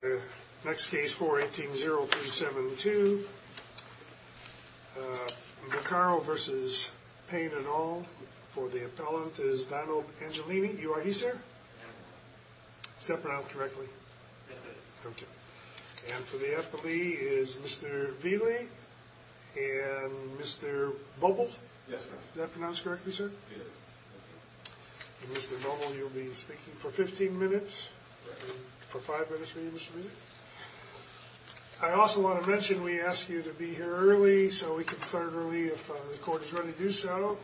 The next case, 418-0372, Bucaro v. Payne et al, for the appellant is Dono Angelini, you are he, sir? Is that pronounced correctly? Yes, sir. Okay. And for the appellee is Mr. Vealy and Mr. Boble? Yes, sir. Is that pronounced correctly, sir? Yes. Mr. Boble, you'll be Mr. Vealy? Yes, sir. I also want to mention we ask you to be here early so we can start early if the court is ready to do so.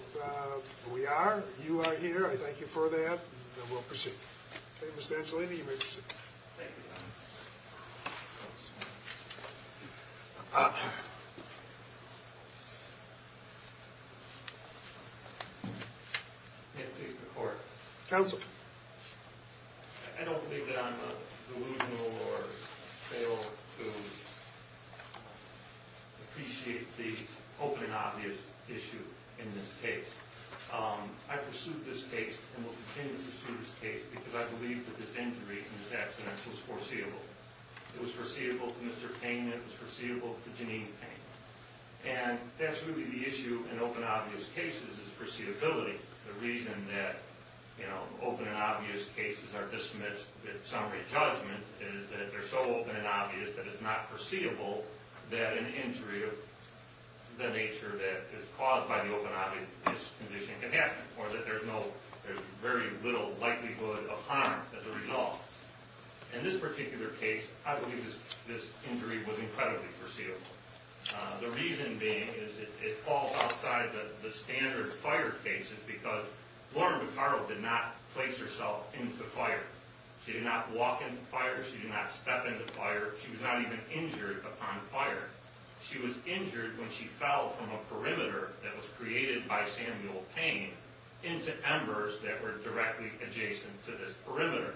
We are, you are here, I thank you for that and we'll proceed. Okay, Mr. Angelini, you may proceed. Thank you, Your Honor. May it please the court? Counsel. I don't believe that I'm delusional or fail to appreciate the open and obvious issue in this case. I pursued this case and will continue to pursue this case because I believe that this injury and this accident was foreseeable. It was foreseeable to Mr. Payne, it was foreseeable to Janine Payne. And that's really the issue in open and obvious cases is foreseeability. The reason that, you know, open and obvious cases are dismissed at summary judgment is that they're so open and obvious that it's not foreseeable that an injury of the nature that is caused by the open and obvious condition can happen or that there's no, there's very little likelihood of harm as a result. In this particular case, I believe this injury was incredibly foreseeable. The reason being is that it falls outside the standard fire cases because Lauren Beccaro did not place herself into fire. She did not walk into fire, she did not step into fire, she was not even injured upon fire. She was injured when she fell from a perimeter that was created by Samuel Payne into embers that were directly adjacent to this perimeter.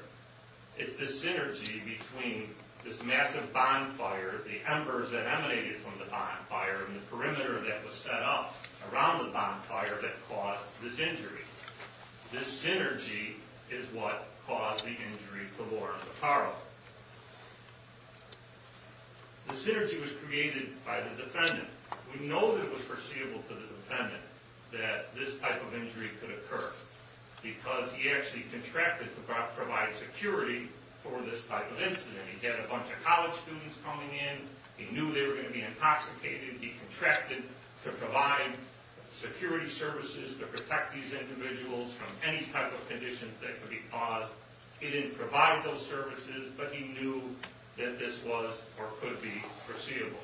It's the synergy between this massive bonfire, the embers that emanated from the bonfire and the perimeter that was set up around the bonfire that caused this injury. This synergy is what caused the injury to Lauren Beccaro. The synergy was created by the defendant. We know that it was foreseeable that this type of injury could occur because he actually contracted to provide security for this type of incident. He had a bunch of college students coming in, he knew they were going to be intoxicated, he contracted to provide security services to protect these individuals from any type of conditions that could be caused. He didn't provide those services but he knew that this was or could be foreseeable.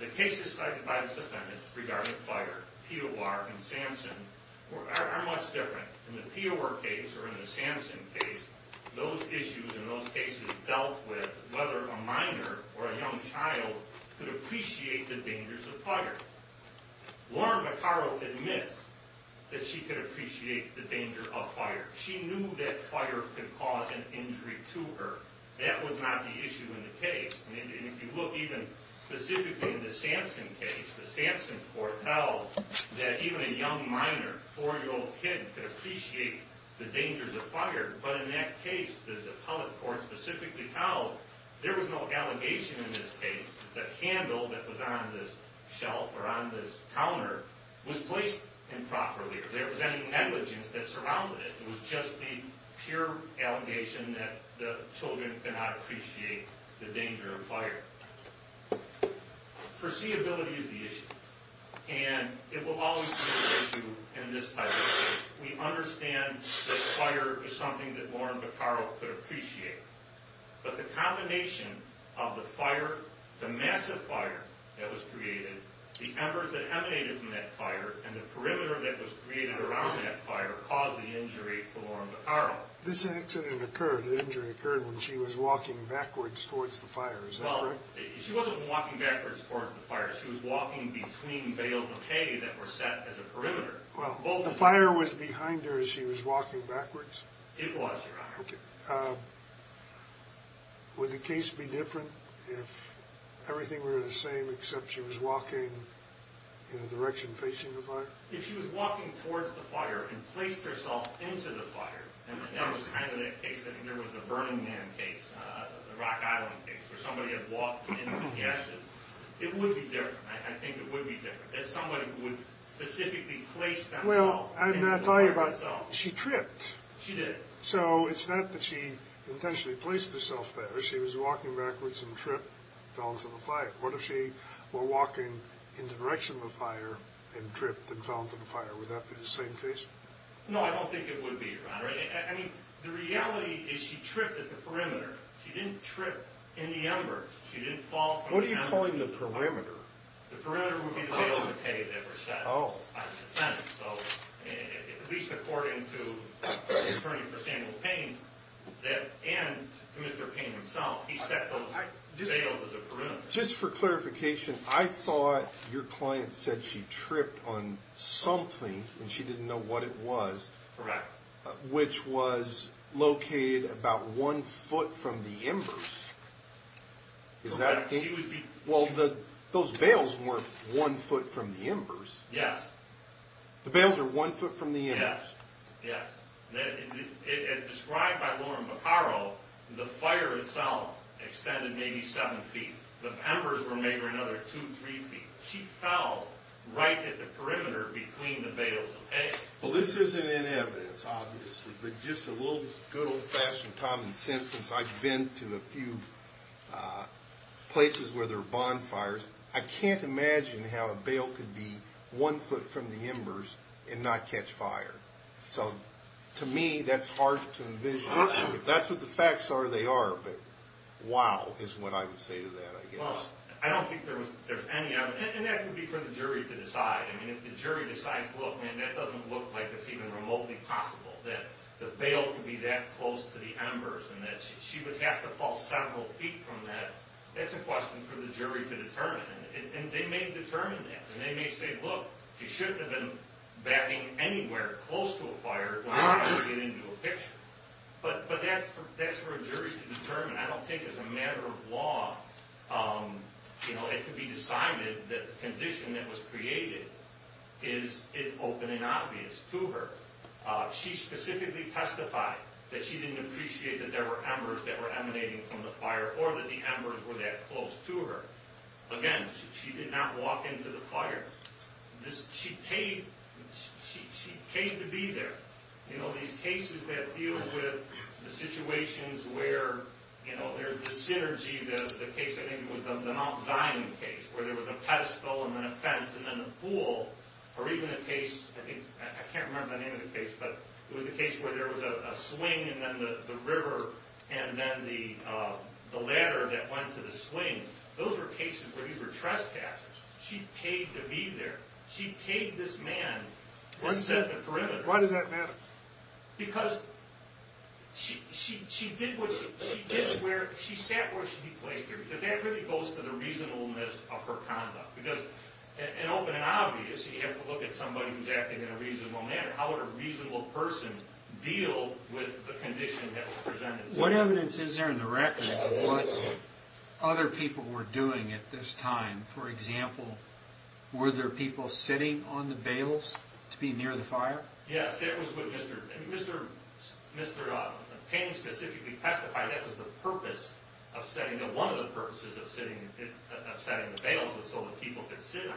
The cases cited by the defendant regarding fire, POR and Samson, are much different. In the POR case or in the Samson case, those issues and those cases dealt with whether a minor or a young child could appreciate the dangers of fire. Lauren Beccaro admits that she could appreciate the danger of fire. She knew that fire could cause an injury to her. That was not the issue in the case. And even a young minor, a four-year-old kid, could appreciate the dangers of fire. But in that case, the appellate court specifically held there was no allegation in this case. The candle that was on this shelf or on this counter was placed improperly. There was any negligence that surrounded it. It was just the pure allegation that the children could not appreciate the danger of fire. Foreseeability is the issue. And it will always be the issue in this type of case. We understand that fire is something that Lauren Beccaro could appreciate. But the combination of the fire, the massive fire that was created, the embers that emanated from that fire and the perimeter that was created around that fire caused the injury for Lauren Beccaro. This accident occurred, the injury occurred when she was walking backwards towards the fire. Is that correct? Well, she wasn't walking backwards towards the fire. She was walking between bales of hay that were set as a perimeter. Well, the fire was behind her as she was walking backwards? It was, Your Honor. Okay. Would the case be different if everything were the same except she was walking in a direction facing the fire? If she was walking towards the fire and placed herself into the fire, and that was kind of the case, I think there was the Burning Man case, the Rock Island case, where somebody had walked into the ashes, it would be different. I think it would be different. If somebody would specifically place themselves into the fire itself. Well, I'm not talking about, she tripped. She did. So it's not that she intentionally placed herself there. She was walking backwards and tripped, fell into the fire. What if she were walking in the direction of the fire and tripped and fell into the fire? Would that be the same case? No, I don't think it would be, Your Honor. I mean, the reality is she tripped at the perimeter. She didn't trip in the embers. She didn't fall from the embers. What are you calling the perimeter? The perimeter would be the bales of hay that were set. Oh. So, at least according to the attorney for Samuel Payne, and to Mr. Payne himself, he set those bales as a perimeter. Just for clarification, I thought your client said she tripped on something and she didn't know what it was. Correct. Which was located about one foot from the embers. Correct. Well, those bales weren't one foot from the embers. Yes. The bales are one foot from the embers. Yes, yes. As described by Lauren Baccaro, the fire itself extended maybe seven feet. The embers were maybe another two, three feet. She fell right at the perimeter between the bales of hay. Well, this isn't in evidence, obviously, but just a little good old-fashioned common sense since I've been to a few places where there are bonfires, I can't imagine how a bale could be one foot from the embers and not catch fire. So, to me, that's hard to envision. If that's what the facts are, they are. But, wow, is what I would say to that, I guess. Well, I don't think there's any evidence. And that would be for the jury to decide. I mean, if the jury decides, look, man, that doesn't look like it's even remotely possible that the bale could be that close to the embers and that she would have to fall several feet from that, that's a question for the jury to determine. And they may determine that. And they may say, look, she shouldn't have been batting anywhere close to a fire when she couldn't get into a picture. But that's for a jury to determine. I don't think, as a matter of law, it could be decided that the condition that was created is open and obvious to her. She specifically testified that she didn't appreciate that there were embers that were emanating from the fire or that the embers were that close to her. Again, she did not walk into the fire. She paid to be there. You know, these cases that deal with the situations where, you know, there's this synergy. The case, I think, was the Mount Zion case where there was a pedestal and then a fence and then a pool. Or even a case, I think, I can't remember the name of the case, but it was a case where there was a swing and then the river and then the ladder that went to the swing. Those were cases where these were trespassers. She paid to be there. She paid this man to set the perimeter. Why does that matter? Because she did what she did where she sat where she placed her. Because that really goes to the reasonableness of her conduct. Because in open and obvious, you have to look at somebody who's acting in a reasonable manner. How would a reasonable person deal with the condition that was presented? What evidence is there in the record of what other people were doing at this time? For example, were there people sitting on the bales to be near the fire? Yes, that was what Mr. Payne specifically testified. That was the purpose of setting, one of the purposes of setting the bales was so the people could sit on them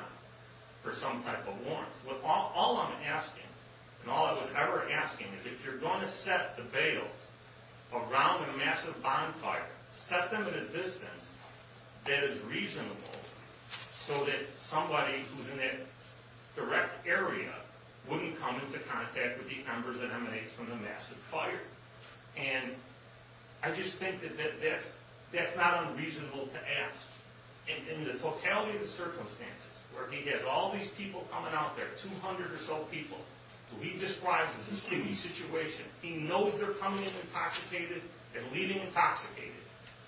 for some type of warrant. All I'm asking and all I was ever asking is if you're going to set the bales around a massive bonfire, set them at a distance that is reasonable so that somebody who's in that direct area wouldn't come into contact with the embers that emanates from the massive fire. And I just think that that's not unreasonable to ask. In the totality of the circumstances where he has all these people coming out there, 200 or so people, who he describes as a sleepy situation, he knows they're coming in intoxicated and leaving intoxicated.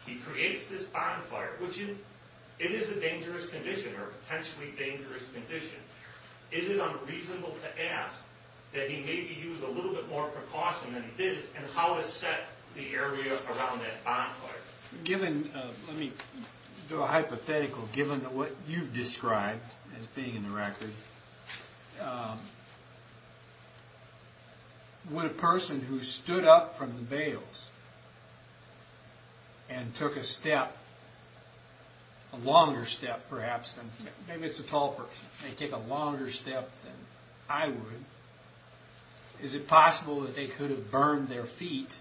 He creates this bonfire, which it is a dangerous condition or a potentially dangerous condition. Is it unreasonable to ask that he maybe use a little bit more precaution than he did Given, let me do a hypothetical, given what you've described as being in the record, would a person who stood up from the bales and took a step, a longer step perhaps, maybe it's a tall person, take a longer step than I would, is it possible that they could have burned their feet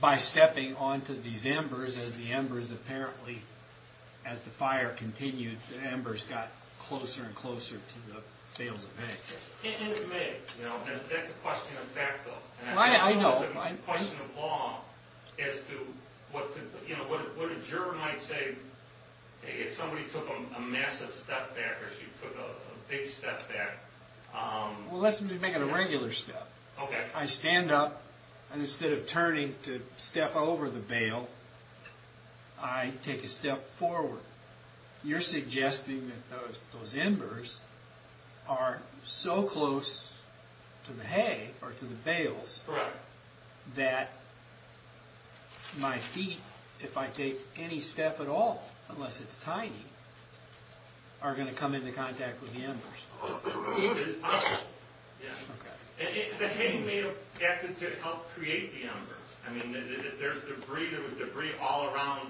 by stepping onto these embers as the embers apparently, as the fire continued, the embers got closer and closer to the bales of hay? It may. That's a question of fact though. I know. It's a question of law as to what a juror might say if somebody took a massive step back or she took a big step back. Well, let's make it a regular step. Okay. I stand up and instead of turning to step over the bale, I take a step forward. You're suggesting that those embers are so close to the hay or to the bales that my feet, if I take any step at all, unless it's tiny, are going to come into contact with the embers. It is possible. Okay. The hay may have acted to help create the embers. I mean, there was debris all around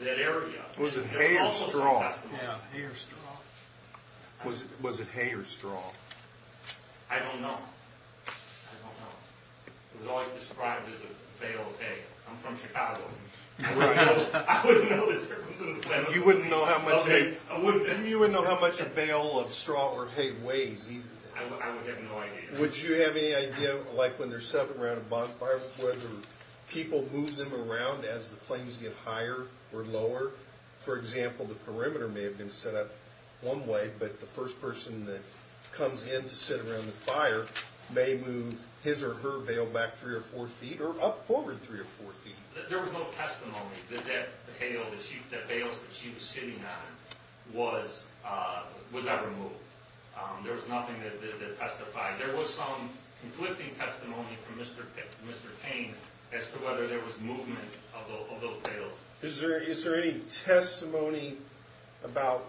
that area. Was it hay or straw? Yeah, hay or straw. Was it hay or straw? I don't know. I don't know. It was always described as a bale of hay. I'm from Chicago. I wouldn't know this. You wouldn't know how much a bale of straw or hay weighs. I would have no idea. Would you have any idea, like when they're set up around a bonfire, whether people move them around as the flames get higher or lower? For example, the perimeter may have been set up one way, but the first person that comes in to sit around the fire may move his or her bale back three or four feet or up forward three or four feet. There was no testimony that that bale that she was sitting on was ever moved. There was nothing that testified. There was some conflicting testimony from Mr. Payne as to whether there was movement of those bales. Is there any testimony about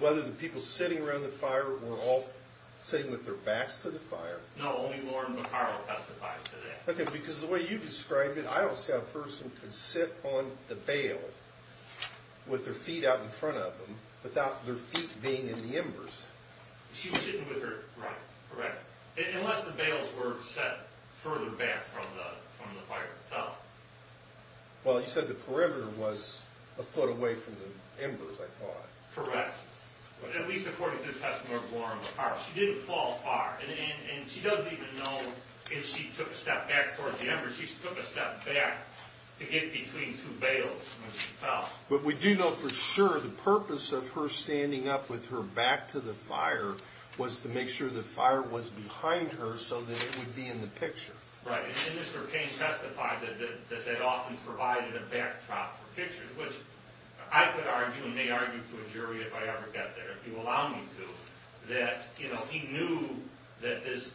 whether the people sitting around the fire were all sitting with their backs to the fire? No, only Lauren McCarroll testified to that. Okay, because the way you described it, I don't see how a person could sit on the bale with their feet out in front of them without their feet being in the embers. She was sitting with her right. Right. Unless the bales were set further back from the fire itself. Well, you said the perimeter was a foot away from the embers, I thought. Correct. At least according to the testimony of Lauren McCarroll. She didn't fall far, and she doesn't even know if she took a step back towards the embers. She took a step back to get between two bales when she fell. But we do know for sure the purpose of her standing up with her back to the fire was to make sure the fire was behind her so that it would be in the picture. Right. And Mr. Payne testified that that often provided a backdrop for pictures, which I could argue and may argue to a jury if I ever get there, if you allow me to, that he knew that this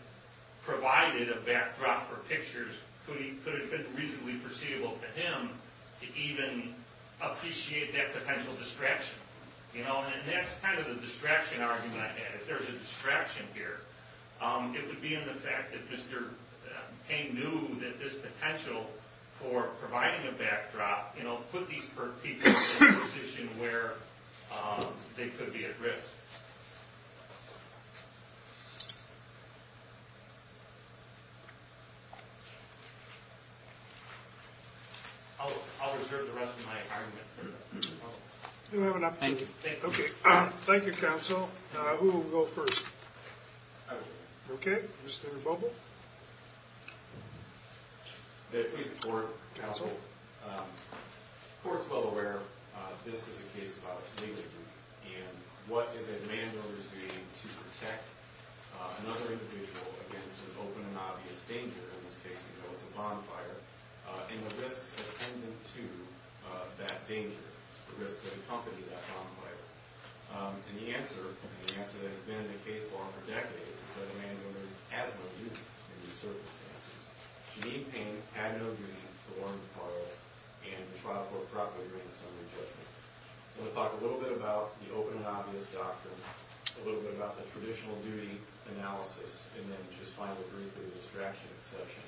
provided a backdrop for pictures could have been reasonably foreseeable to him to even appreciate that potential distraction. And that's kind of the distraction argument I had. If there's a distraction here, it would be in the fact that Mr. Payne knew that this potential for providing a backdrop put these people in a position where they could be at risk. I'll reserve the rest of my argument. Thank you. Okay. Thank you, counsel. Who will go first? Okay. Mr. Bobo. Please, the court. Counsel. The court's well aware this is a case about its legal unit. And what is a mando is doing to protect another individual against an open and obvious danger? In this case, you know, it's a bonfire. And the risk is dependent to that danger, the risk that accompanied that bonfire. And the answer, and the answer that has been in the case law for decades, is that a mando has no duty in these circumstances. Jeanine Payne had no duty to warn the parlor and the trial court properly granted summary judgment. I'm going to talk a little bit about the open and obvious doctrine, a little bit about the traditional duty analysis, and then just finally briefly the distraction exception.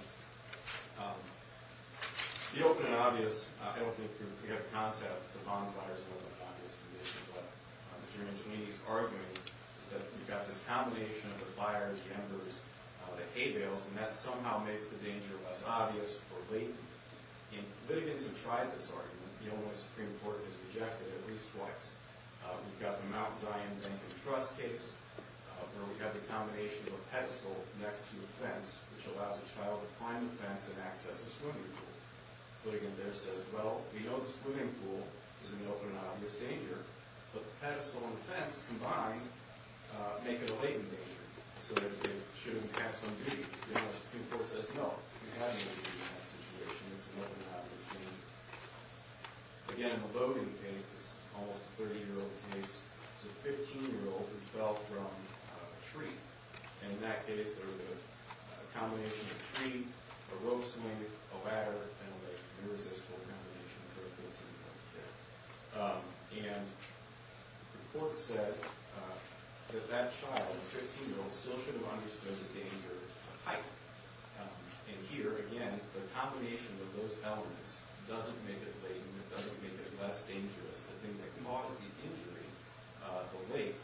The open and obvious, I don't think we have a contest that the bonfire is an open and obvious condition. But Mr. Angelini's argument is that we've got this combination of the fire, the embers, the hay bales, and that somehow makes the danger less obvious or latent. And litigants have tried this argument. The Illinois Supreme Court has rejected it at least twice. We've got the Mount Zion Bank and Trust case where we've got the combination of a pedestal next to a fence, which allows a child to climb the fence and access a swimming pool. Litigant there says, well, we know the swimming pool is in an open and obvious danger, but the pedestal and the fence combined make it a latent danger. So it shouldn't have some duty. The Illinois Supreme Court says, no, you have no duty in that situation. It's an open and obvious danger. Again, in the Bowdoin case, this almost 30-year-old case, it was a 15-year-old who fell from a tree. And in that case, there was a combination of a tree, a rope swing, a ladder, and an irresistible combination of the 15-year-old kid. And the court said that that child, the 15-year-old, still should have understood the danger of height. And here, again, the combination of those elements doesn't make it latent. It doesn't make it less dangerous. The thing that caused the injury, the weight,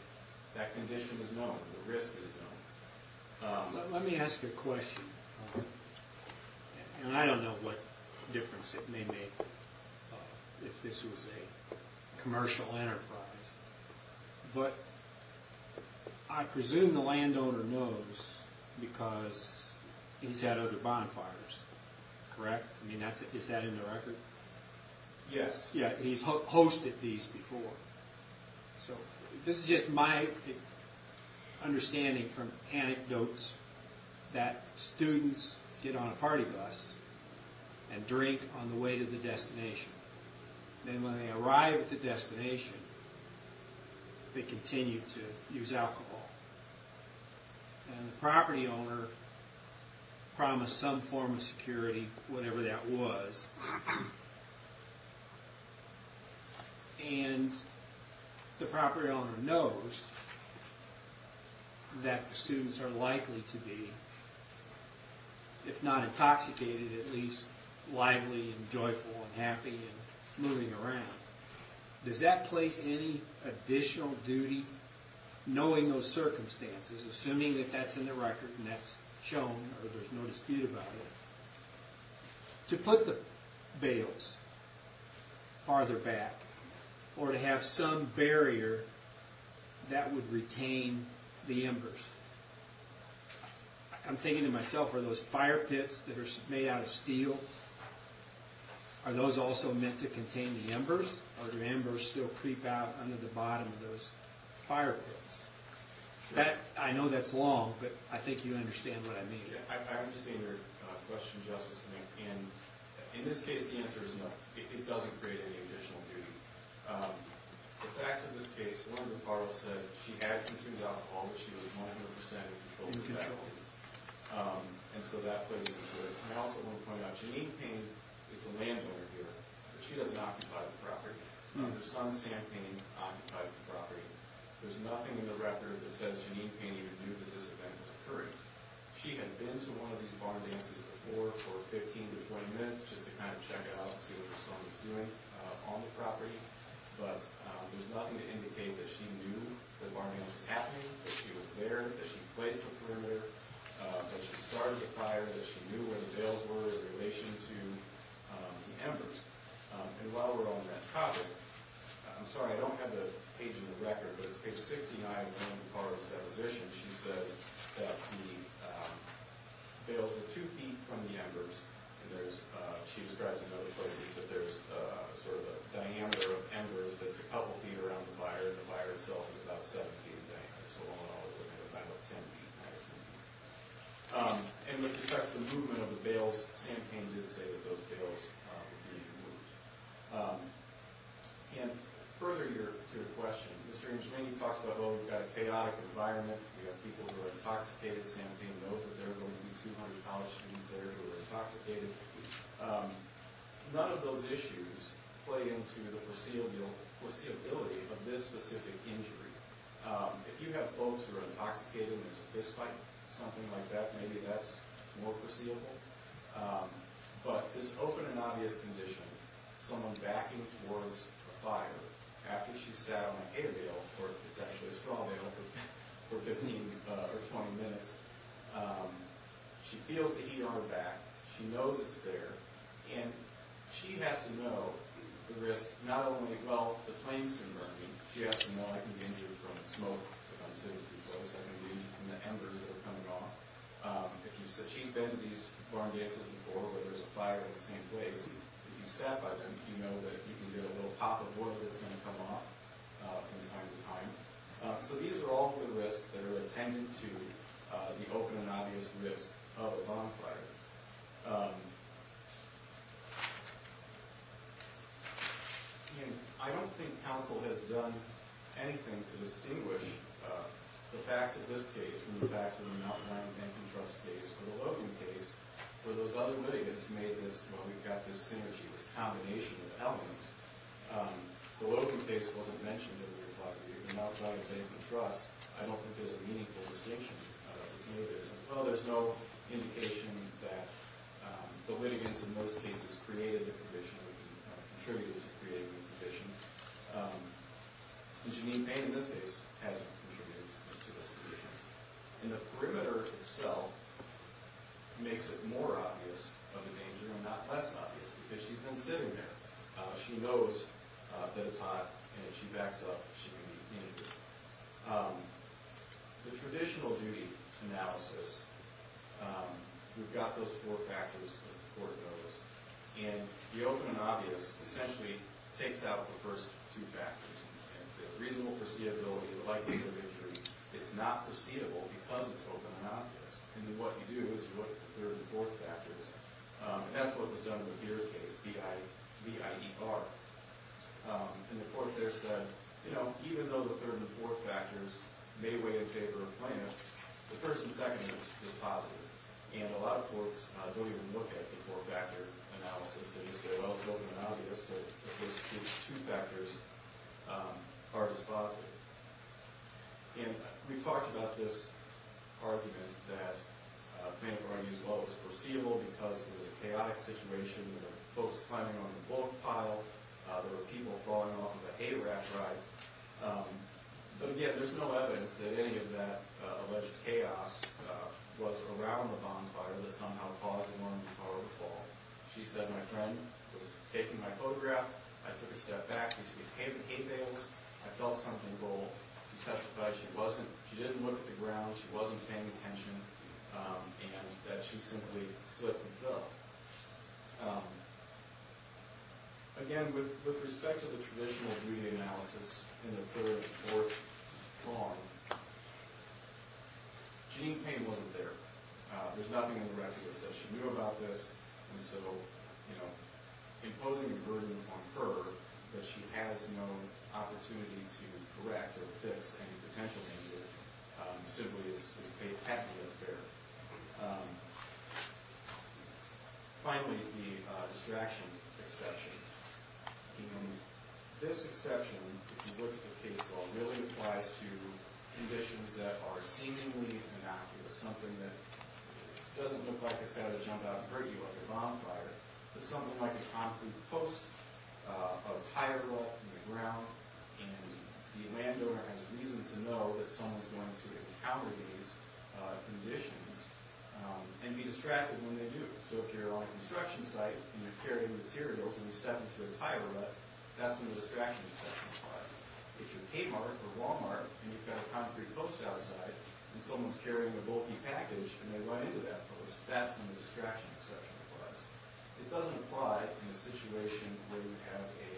that condition is known. The risk is known. Let me ask you a question. And I don't know what difference it may make if this was a commercial enterprise. But I presume the landowner knows because he's had other bonfires, correct? I mean, is that in the record? Yes. Yeah, he's hosted these before. So this is just my understanding from anecdotes that students get on a party bus and drink on the way to the destination. And when they arrive at the destination, they continue to use alcohol. And the property owner promised some form of security, whatever that was. And the property owner knows that the students are likely to be, if not intoxicated, at least lively and joyful and happy and moving around. Does that place any additional duty, knowing those circumstances, assuming that that's in the record and that's shown or there's no dispute about it, to put the bales farther back or to have some barrier that would retain the embers? I'm thinking to myself, are those fire pits that are made out of steel, are those also meant to contain the embers? Or do embers still creep out under the bottom of those fire pits? I know that's long, but I think you understand what I mean. I understand your question, Justice McCain. In this case, the answer is no. It doesn't create any additional duty. The facts of this case, one of the parties said she had consumed alcohol, but she was 100 percent in control of the barrels. And so that place is good. I also want to point out, Janine Payne is the landowner here, but she doesn't occupy the property. Her son, Sam Payne, occupies the property. There's nothing in the record that says Janine Payne even knew that this event was occurring. She had been to one of these barn dances before for 15 to 20 minutes just to kind of check out and see what her son was doing on the property. But there's nothing to indicate that she knew the barn dance was happening, that she was there, that she placed the perimeter, that she started the fire, that she knew where the bales were in relation to the embers. And while we're on that topic, I'm sorry, I don't have the page in the record, but it's page 69 of one of the parties' depositions. And she says that the bales were two feet from the embers. And she describes in other places that there's sort of a diameter of embers that's a couple feet around the fire, and the fire itself is about seven feet in diameter. So all in all, it would have been about 10 feet by 10 feet. And with respect to the movement of the bales, Sam Payne did say that those bales were being moved. And further to your question, Mr. Englishman, you talked about, well, we've got a chaotic environment. We've got people who are intoxicated. Sam Payne knows that there are going to be 200 college students there who are intoxicated. None of those issues play into the foreseeability of this specific injury. If you have folks who are intoxicated and there's a fist fight, something like that, maybe that's more foreseeable. But this open and obvious condition, someone backing towards a fire, after she's sat on a hay bale, or it's actually a straw bale, for 15 or 20 minutes, she feels the heat on her back. She knows it's there. And she has to know the risk, not only, well, the flames can burn me. She has to know I can be injured from smoke if I'm sitting too close. I can be from the embers that are coming off. She's been to these barn gates before where there's a fire in the same place. If you've sat by them, you know that you can hear a little pop of water that's going to come off from time to time. So these are all good risks that are attendant to the open and obvious risk of a barn fire. I mean, I don't think counsel has done anything to distinguish the facts of this case from the facts of the Mount Zion Bank and Trust case. The Logan case, where those other litigants made this, well, we've got this synergy, this combination of elements. The Logan case wasn't mentioned in the report. The Mount Zion Bank and Trust, I don't think there's a meaningful distinction. Well, there's no indication that the litigants, in most cases, created the provision or contributed to creating the provision. Jeanine Payne, in this case, hasn't contributed to this provision. And the perimeter itself makes it more obvious of the danger and not less obvious because she's been sitting there. She knows that it's hot, and if she backs up, she can be injured. The traditional duty analysis, we've got those four factors as the court goes. And the open and obvious essentially takes out the first two factors. The reasonable foreseeability, the likelihood of injury. It's not foreseeable because it's open and obvious. And what you do is you look at the third and fourth factors. And that's what was done with your case, B-I-E-R. And the court there said, you know, even though the third and fourth factors may weigh a favor in plaintiff, the first and second is positive. And a lot of courts don't even look at the four-factor analysis. They just say, well, it's open and obvious that those two factors are just positive. And we talked about this argument that plaintiff argues, well, it was foreseeable because it was a chaotic situation. There were folks climbing on a bullet pile. There were people falling off of a hay rack ride. But again, there's no evidence that any of that alleged chaos was around the bonfire that somehow caused the morning before overfall. She said, my friend was taking my photograph. I took a step back and she became the hay bales. I felt something go. She testified she didn't look at the ground, she wasn't paying attention, and that she simply slipped and fell. Again, with respect to the traditional duty analysis in the third and fourth lawn, gene pain wasn't there. There's nothing in the record that says she knew about this. And so, you know, imposing a burden on her that she has no opportunity to correct or fix any potential injury simply is a pathological error. Finally, the distraction exception. This exception, if you look at the case law, really applies to conditions that are seemingly innocuous, something that doesn't look like it's got to jump out and hurt you like a bonfire, but something like a concrete post, a tire rut in the ground, and the landowner has reason to know that someone's going to encounter these conditions and be distracted when they do. So if you're on a construction site and you're carrying materials and you step into a tire rut, that's when the distraction exception applies. If you're Kmart or Walmart and you've got a concrete post outside and someone's carrying a bulky package and they run into that post, that's when the distraction exception applies. It doesn't apply in a situation where you have a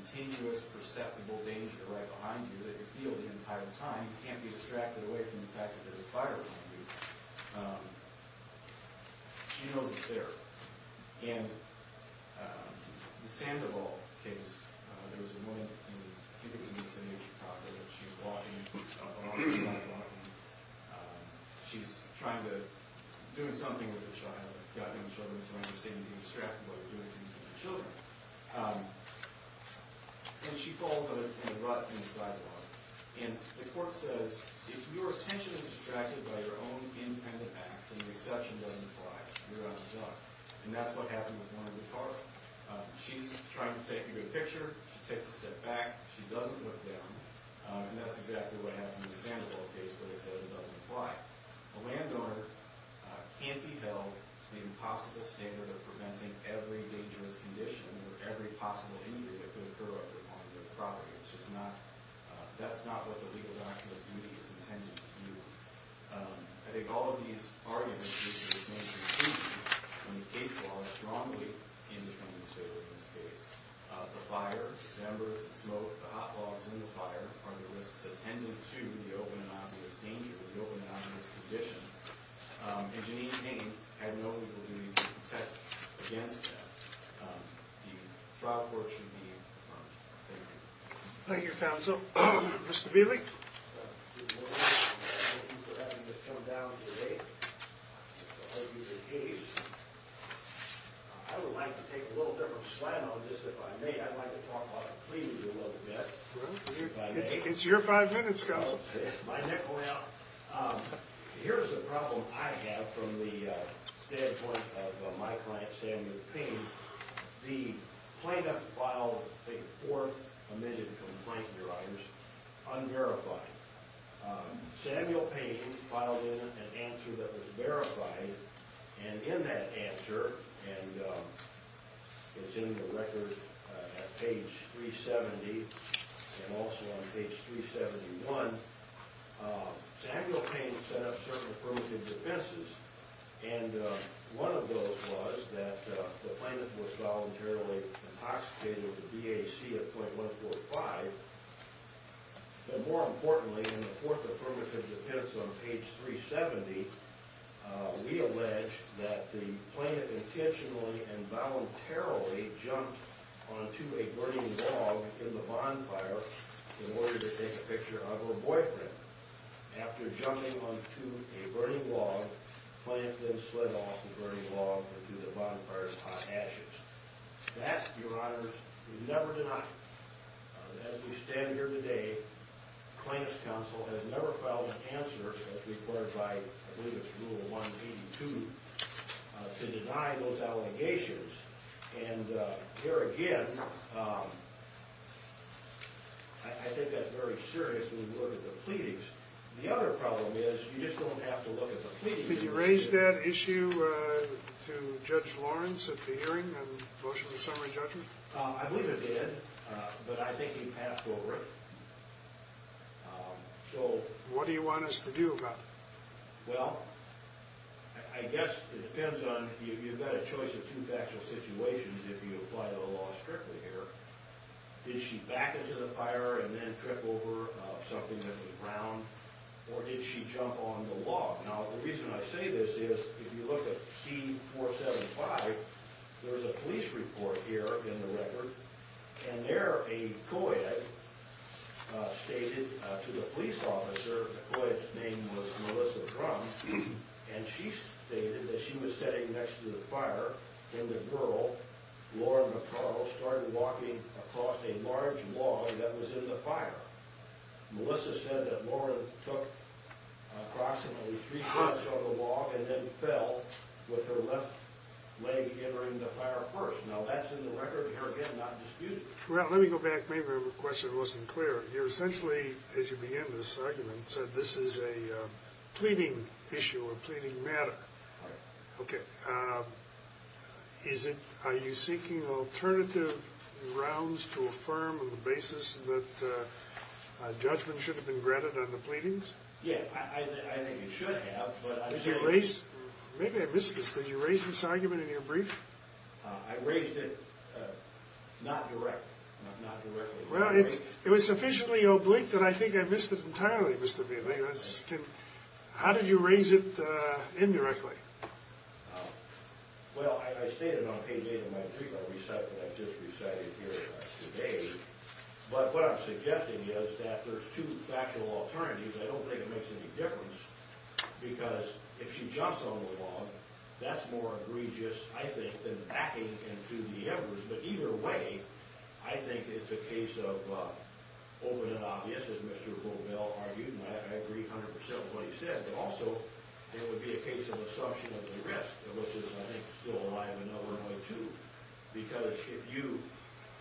continuous, perceptible danger right behind you that you feel the entire time and you can't be distracted away from the fact that there's a fire behind you. She knows it's there. In the Sandoval case, there was a woman, I think it was in the city of Chicago, that she had walked in on a sidewalk and she's trying to do something with a child. She's got young children, so I understand you're being distracted while you're doing something with your children. And she falls in a rut in the sidewalk. And the court says, if your attention is distracted by your own independent acts, then the exception doesn't apply. You're out of luck. And that's what happened with one of the cars. She's trying to take a good picture. She takes a step back. She doesn't look down. And that's exactly what happened in the Sandoval case where they said it doesn't apply. A landowner can't be held to the impossible standard of preventing every dangerous condition or every possible injury that could occur on their property. That's not what the legal document of duty is intended to do. I think all of these arguments use the same conclusions. When the case law is strongly independent in this case, the fire, the embers, the smoke, the hot logs in the fire are the risks attendant to the open and obvious danger, the open and obvious condition. And Janine Payne had no legal duty to protect against that. The trial court should be informed. Thank you. Thank you, counsel. Mr. Bielek? Good morning. Thank you for having us come down today to argue the case. I would like to take a little bit of a slam on this if I may. I'd like to talk about the cleaning rule of the deck. It's your five minutes, counsel. It's my nickel now. Here's a problem I have from the standpoint of my client, Samuel Payne. The plaintiff filed a fourth omitted complaint, your honors, unverified. Samuel Payne filed in an answer that was verified, and in that answer, and it's in the record at page 370 and also on page 371, Samuel Payne set up certain affirmative defenses, and one of those was that the plaintiff was voluntarily intoxicated with VAC at .145. But more importantly, in the fourth affirmative defense on page 370, we allege that the plaintiff intentionally and voluntarily jumped onto a burning log in the bonfire in order to take a picture of her boyfriend. After jumping onto a burning log, the plaintiff then slid off the burning log into the bonfire's hot ashes. That, your honors, is never denied. As we stand here today, the plaintiff's counsel has never filed an answer as required by, I believe it's rule 182, to deny those allegations. And there again, I think that's very serious when you look at the pleadings. The other problem is you just don't have to look at the pleadings. Could you raise that issue to Judge Lawrence at the hearing and motion the summary judgment? I believe it did, but I think he passed over it. So, what do you want us to do about it? Well, I guess it depends on, you've got a choice of two factual situations if you apply the law strictly here. Did she back into the fire and then trip over something that was round? Or did she jump on the log? Now, the reason I say this is, if you look at C-475, there's a police report here in the record. And there, a co-ed stated to the police officer, the co-ed's name was Melissa Drum, and she stated that she was sitting next to the fire when the girl, Laura McCarl, started walking across a large log that was in the fire. Melissa said that Laura took approximately three steps over the log and then fell with her left leg entering the fire first. Now, that's in the record here, again, not disputed. Well, let me go back. Maybe my question wasn't clear. You're essentially, as you began this argument, said this is a pleading issue or pleading matter. Right. Okay. Are you seeking alternative grounds to affirm on the basis that judgment should have been granted on the pleadings? Yeah, I think it should have. Maybe I missed this. Did you raise this argument in your brief? I raised it not directly. Well, it was sufficiently oblique that I think I missed it entirely, Mr. Biele. How did you raise it indirectly? Well, I stated on page 8 of my prequel recital that I just recited here today, but what I'm suggesting is that there's two factual alternatives. I don't think it makes any difference because if she jumps on the log, that's more egregious, I think, than backing into the evidence. But either way, I think it's a case of open and obvious, as Mr. Bobel argued, and I agree 100% with what he said. But also, it would be a case of assumption of the risk. And this is, I think, still alive and numbering, too. Because if you,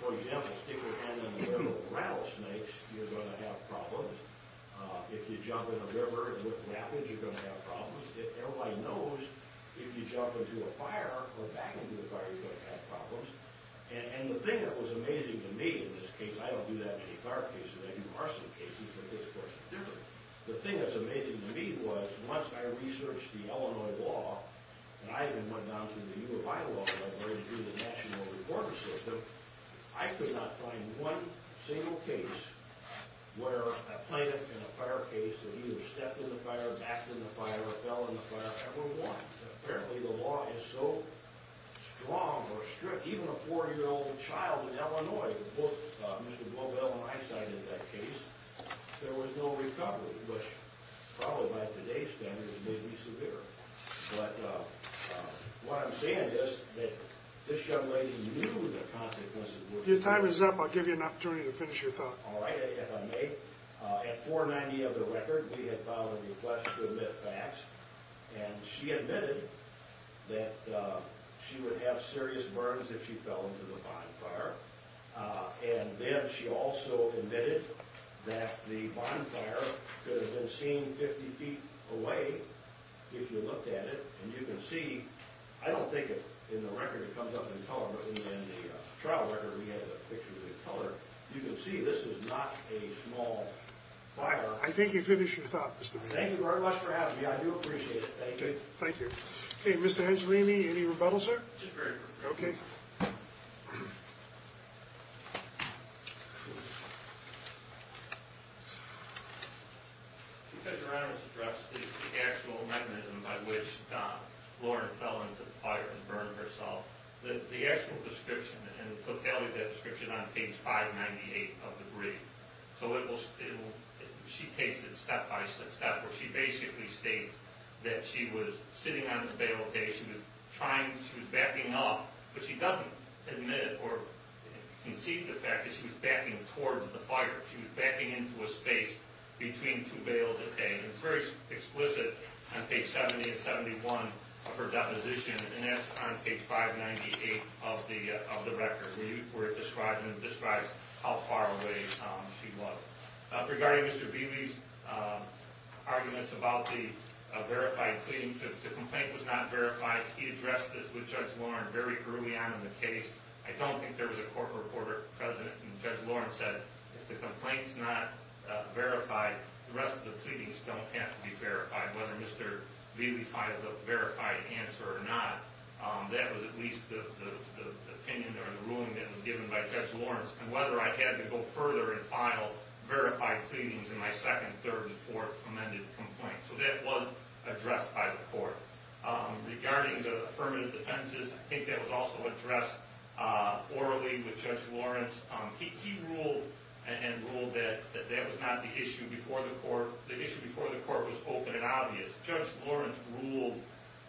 for example, stick your hand in the river with rattlesnakes, you're going to have problems. If you jump in a river with rapids, you're going to have problems. Everybody knows if you jump into a fire or back into a fire, you're going to have problems. And the thing that was amazing to me in this case, I don't do that many fire cases. I do arson cases, but this, of course, is different. The thing that's amazing to me was once I researched the Illinois law, and I even went down to the U of I law library to do the national reporting system, I could not find one single case where a plaintiff in a fire case had either stepped in the fire, backed in the fire, or fell in the fire ever once. Apparently, the law is so strong or strict, even a 4-year-old child in Illinois, Mr. Glovell and I cited that case, there was no recovery, which probably by today's standards may be severe. But what I'm saying is that this young lady knew the consequences. If your time is up, I'll give you an opportunity to finish your thought. All right, if I may, at 490 of the record, we had filed a request to admit facts, and she admitted that she would have serious burns if she fell into the bonfire, and then she also admitted that the bonfire could have been seen 50 feet away if you looked at it, and you can see, I don't think in the record it comes up in color, but in the trial record we had the picture in color, you can see this is not a small fire. I think you finished your thought, Mr. Glovell. Thank you very much for having me. I do appreciate it. Thank you. Thank you. Okay, Mr. Angelini, any rebuttals, sir? Just very briefly. Okay. Because your Honor's address is the actual mechanism by which Lauren fell into the fire and burned herself, the actual description and totality of that description on page 598 of the brief, so she takes it step by step where she basically states that she was sitting on the bale of hay, she was backing up, but she doesn't admit or concede the fact that she was backing towards the fire. She was backing into a space between two bales of hay, and it's very explicit on page 70 and 71 of her deposition, and that's on page 598 of the record, where it describes how far away she was. Regarding Mr. Beley's arguments about the verified pleading, the complaint was not verified. He addressed this with Judge Lauren very early on in the case. I don't think there was a court reporter present, and Judge Lauren said, if the complaint's not verified, the rest of the pleadings don't have to be verified. Whether Mr. Beley finds a verified answer or not, that was at least the opinion or the ruling that was given by Judge Laurence, and whether I had to go further and file verified pleadings in my second, third, and fourth amended complaint. So that was addressed by the court. Regarding the affirmative defenses, I think that was also addressed orally with Judge Laurence. He ruled and ruled that that was not the issue before the court. The issue before the court was open and obvious. Judge Laurence ruled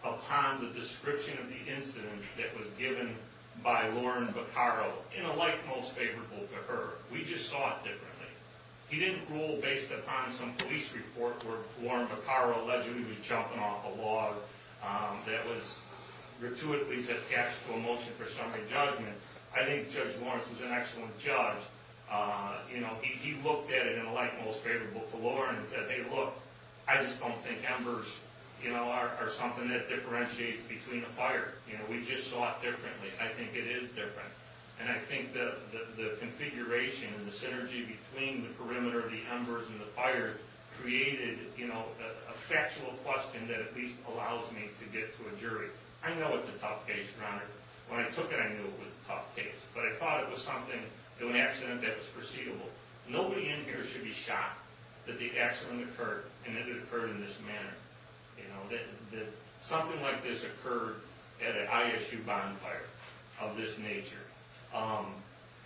upon the description of the incident that was given by Lauren Bacaro, in a light most favorable to her. We just saw it differently. He didn't rule based upon some police report where Lauren Bacaro alleged he was jumping off a log that was gratuitously attached to a motion for summary judgment. I think Judge Laurence was an excellent judge. He looked at it in a light most favorable to Lauren and said, hey, look, I just don't think embers are something that differentiates between a fire. We just saw it differently. I think it is different. And I think the configuration and the synergy between the perimeter of the embers and the fire created a factual question that at least allows me to get to a jury. I know it's a tough case, Your Honor. When I took it, I knew it was a tough case. But I thought it was something, an accident that was foreseeable. Nobody in here should be shocked that the accident occurred and it occurred in this manner, that something like this occurred at an ISU bonfire of this nature.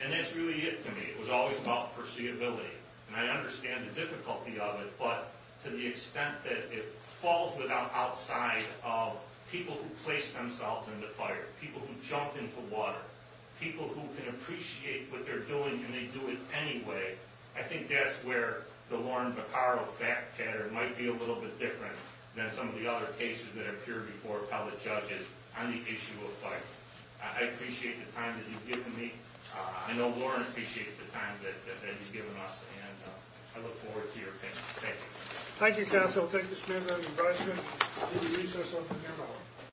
And that's really it to me. It was always about foreseeability. And I understand the difficulty of it, but to the extent that it falls outside of people who placed themselves in the fire, people who jumped into water, people who can appreciate what they're doing and they do it anyway, I think that's where the Lauren Bacaro fact pattern might be a little bit different than some of the other cases that appeared before public judges on the issue of fire. I appreciate the time that you've given me. I know Lauren appreciates the time that you've given us, and I look forward to your opinion. Thank you. Thank you, counsel. Thank you, Mr. Mayor, Madam Vice Mayor. We will recess.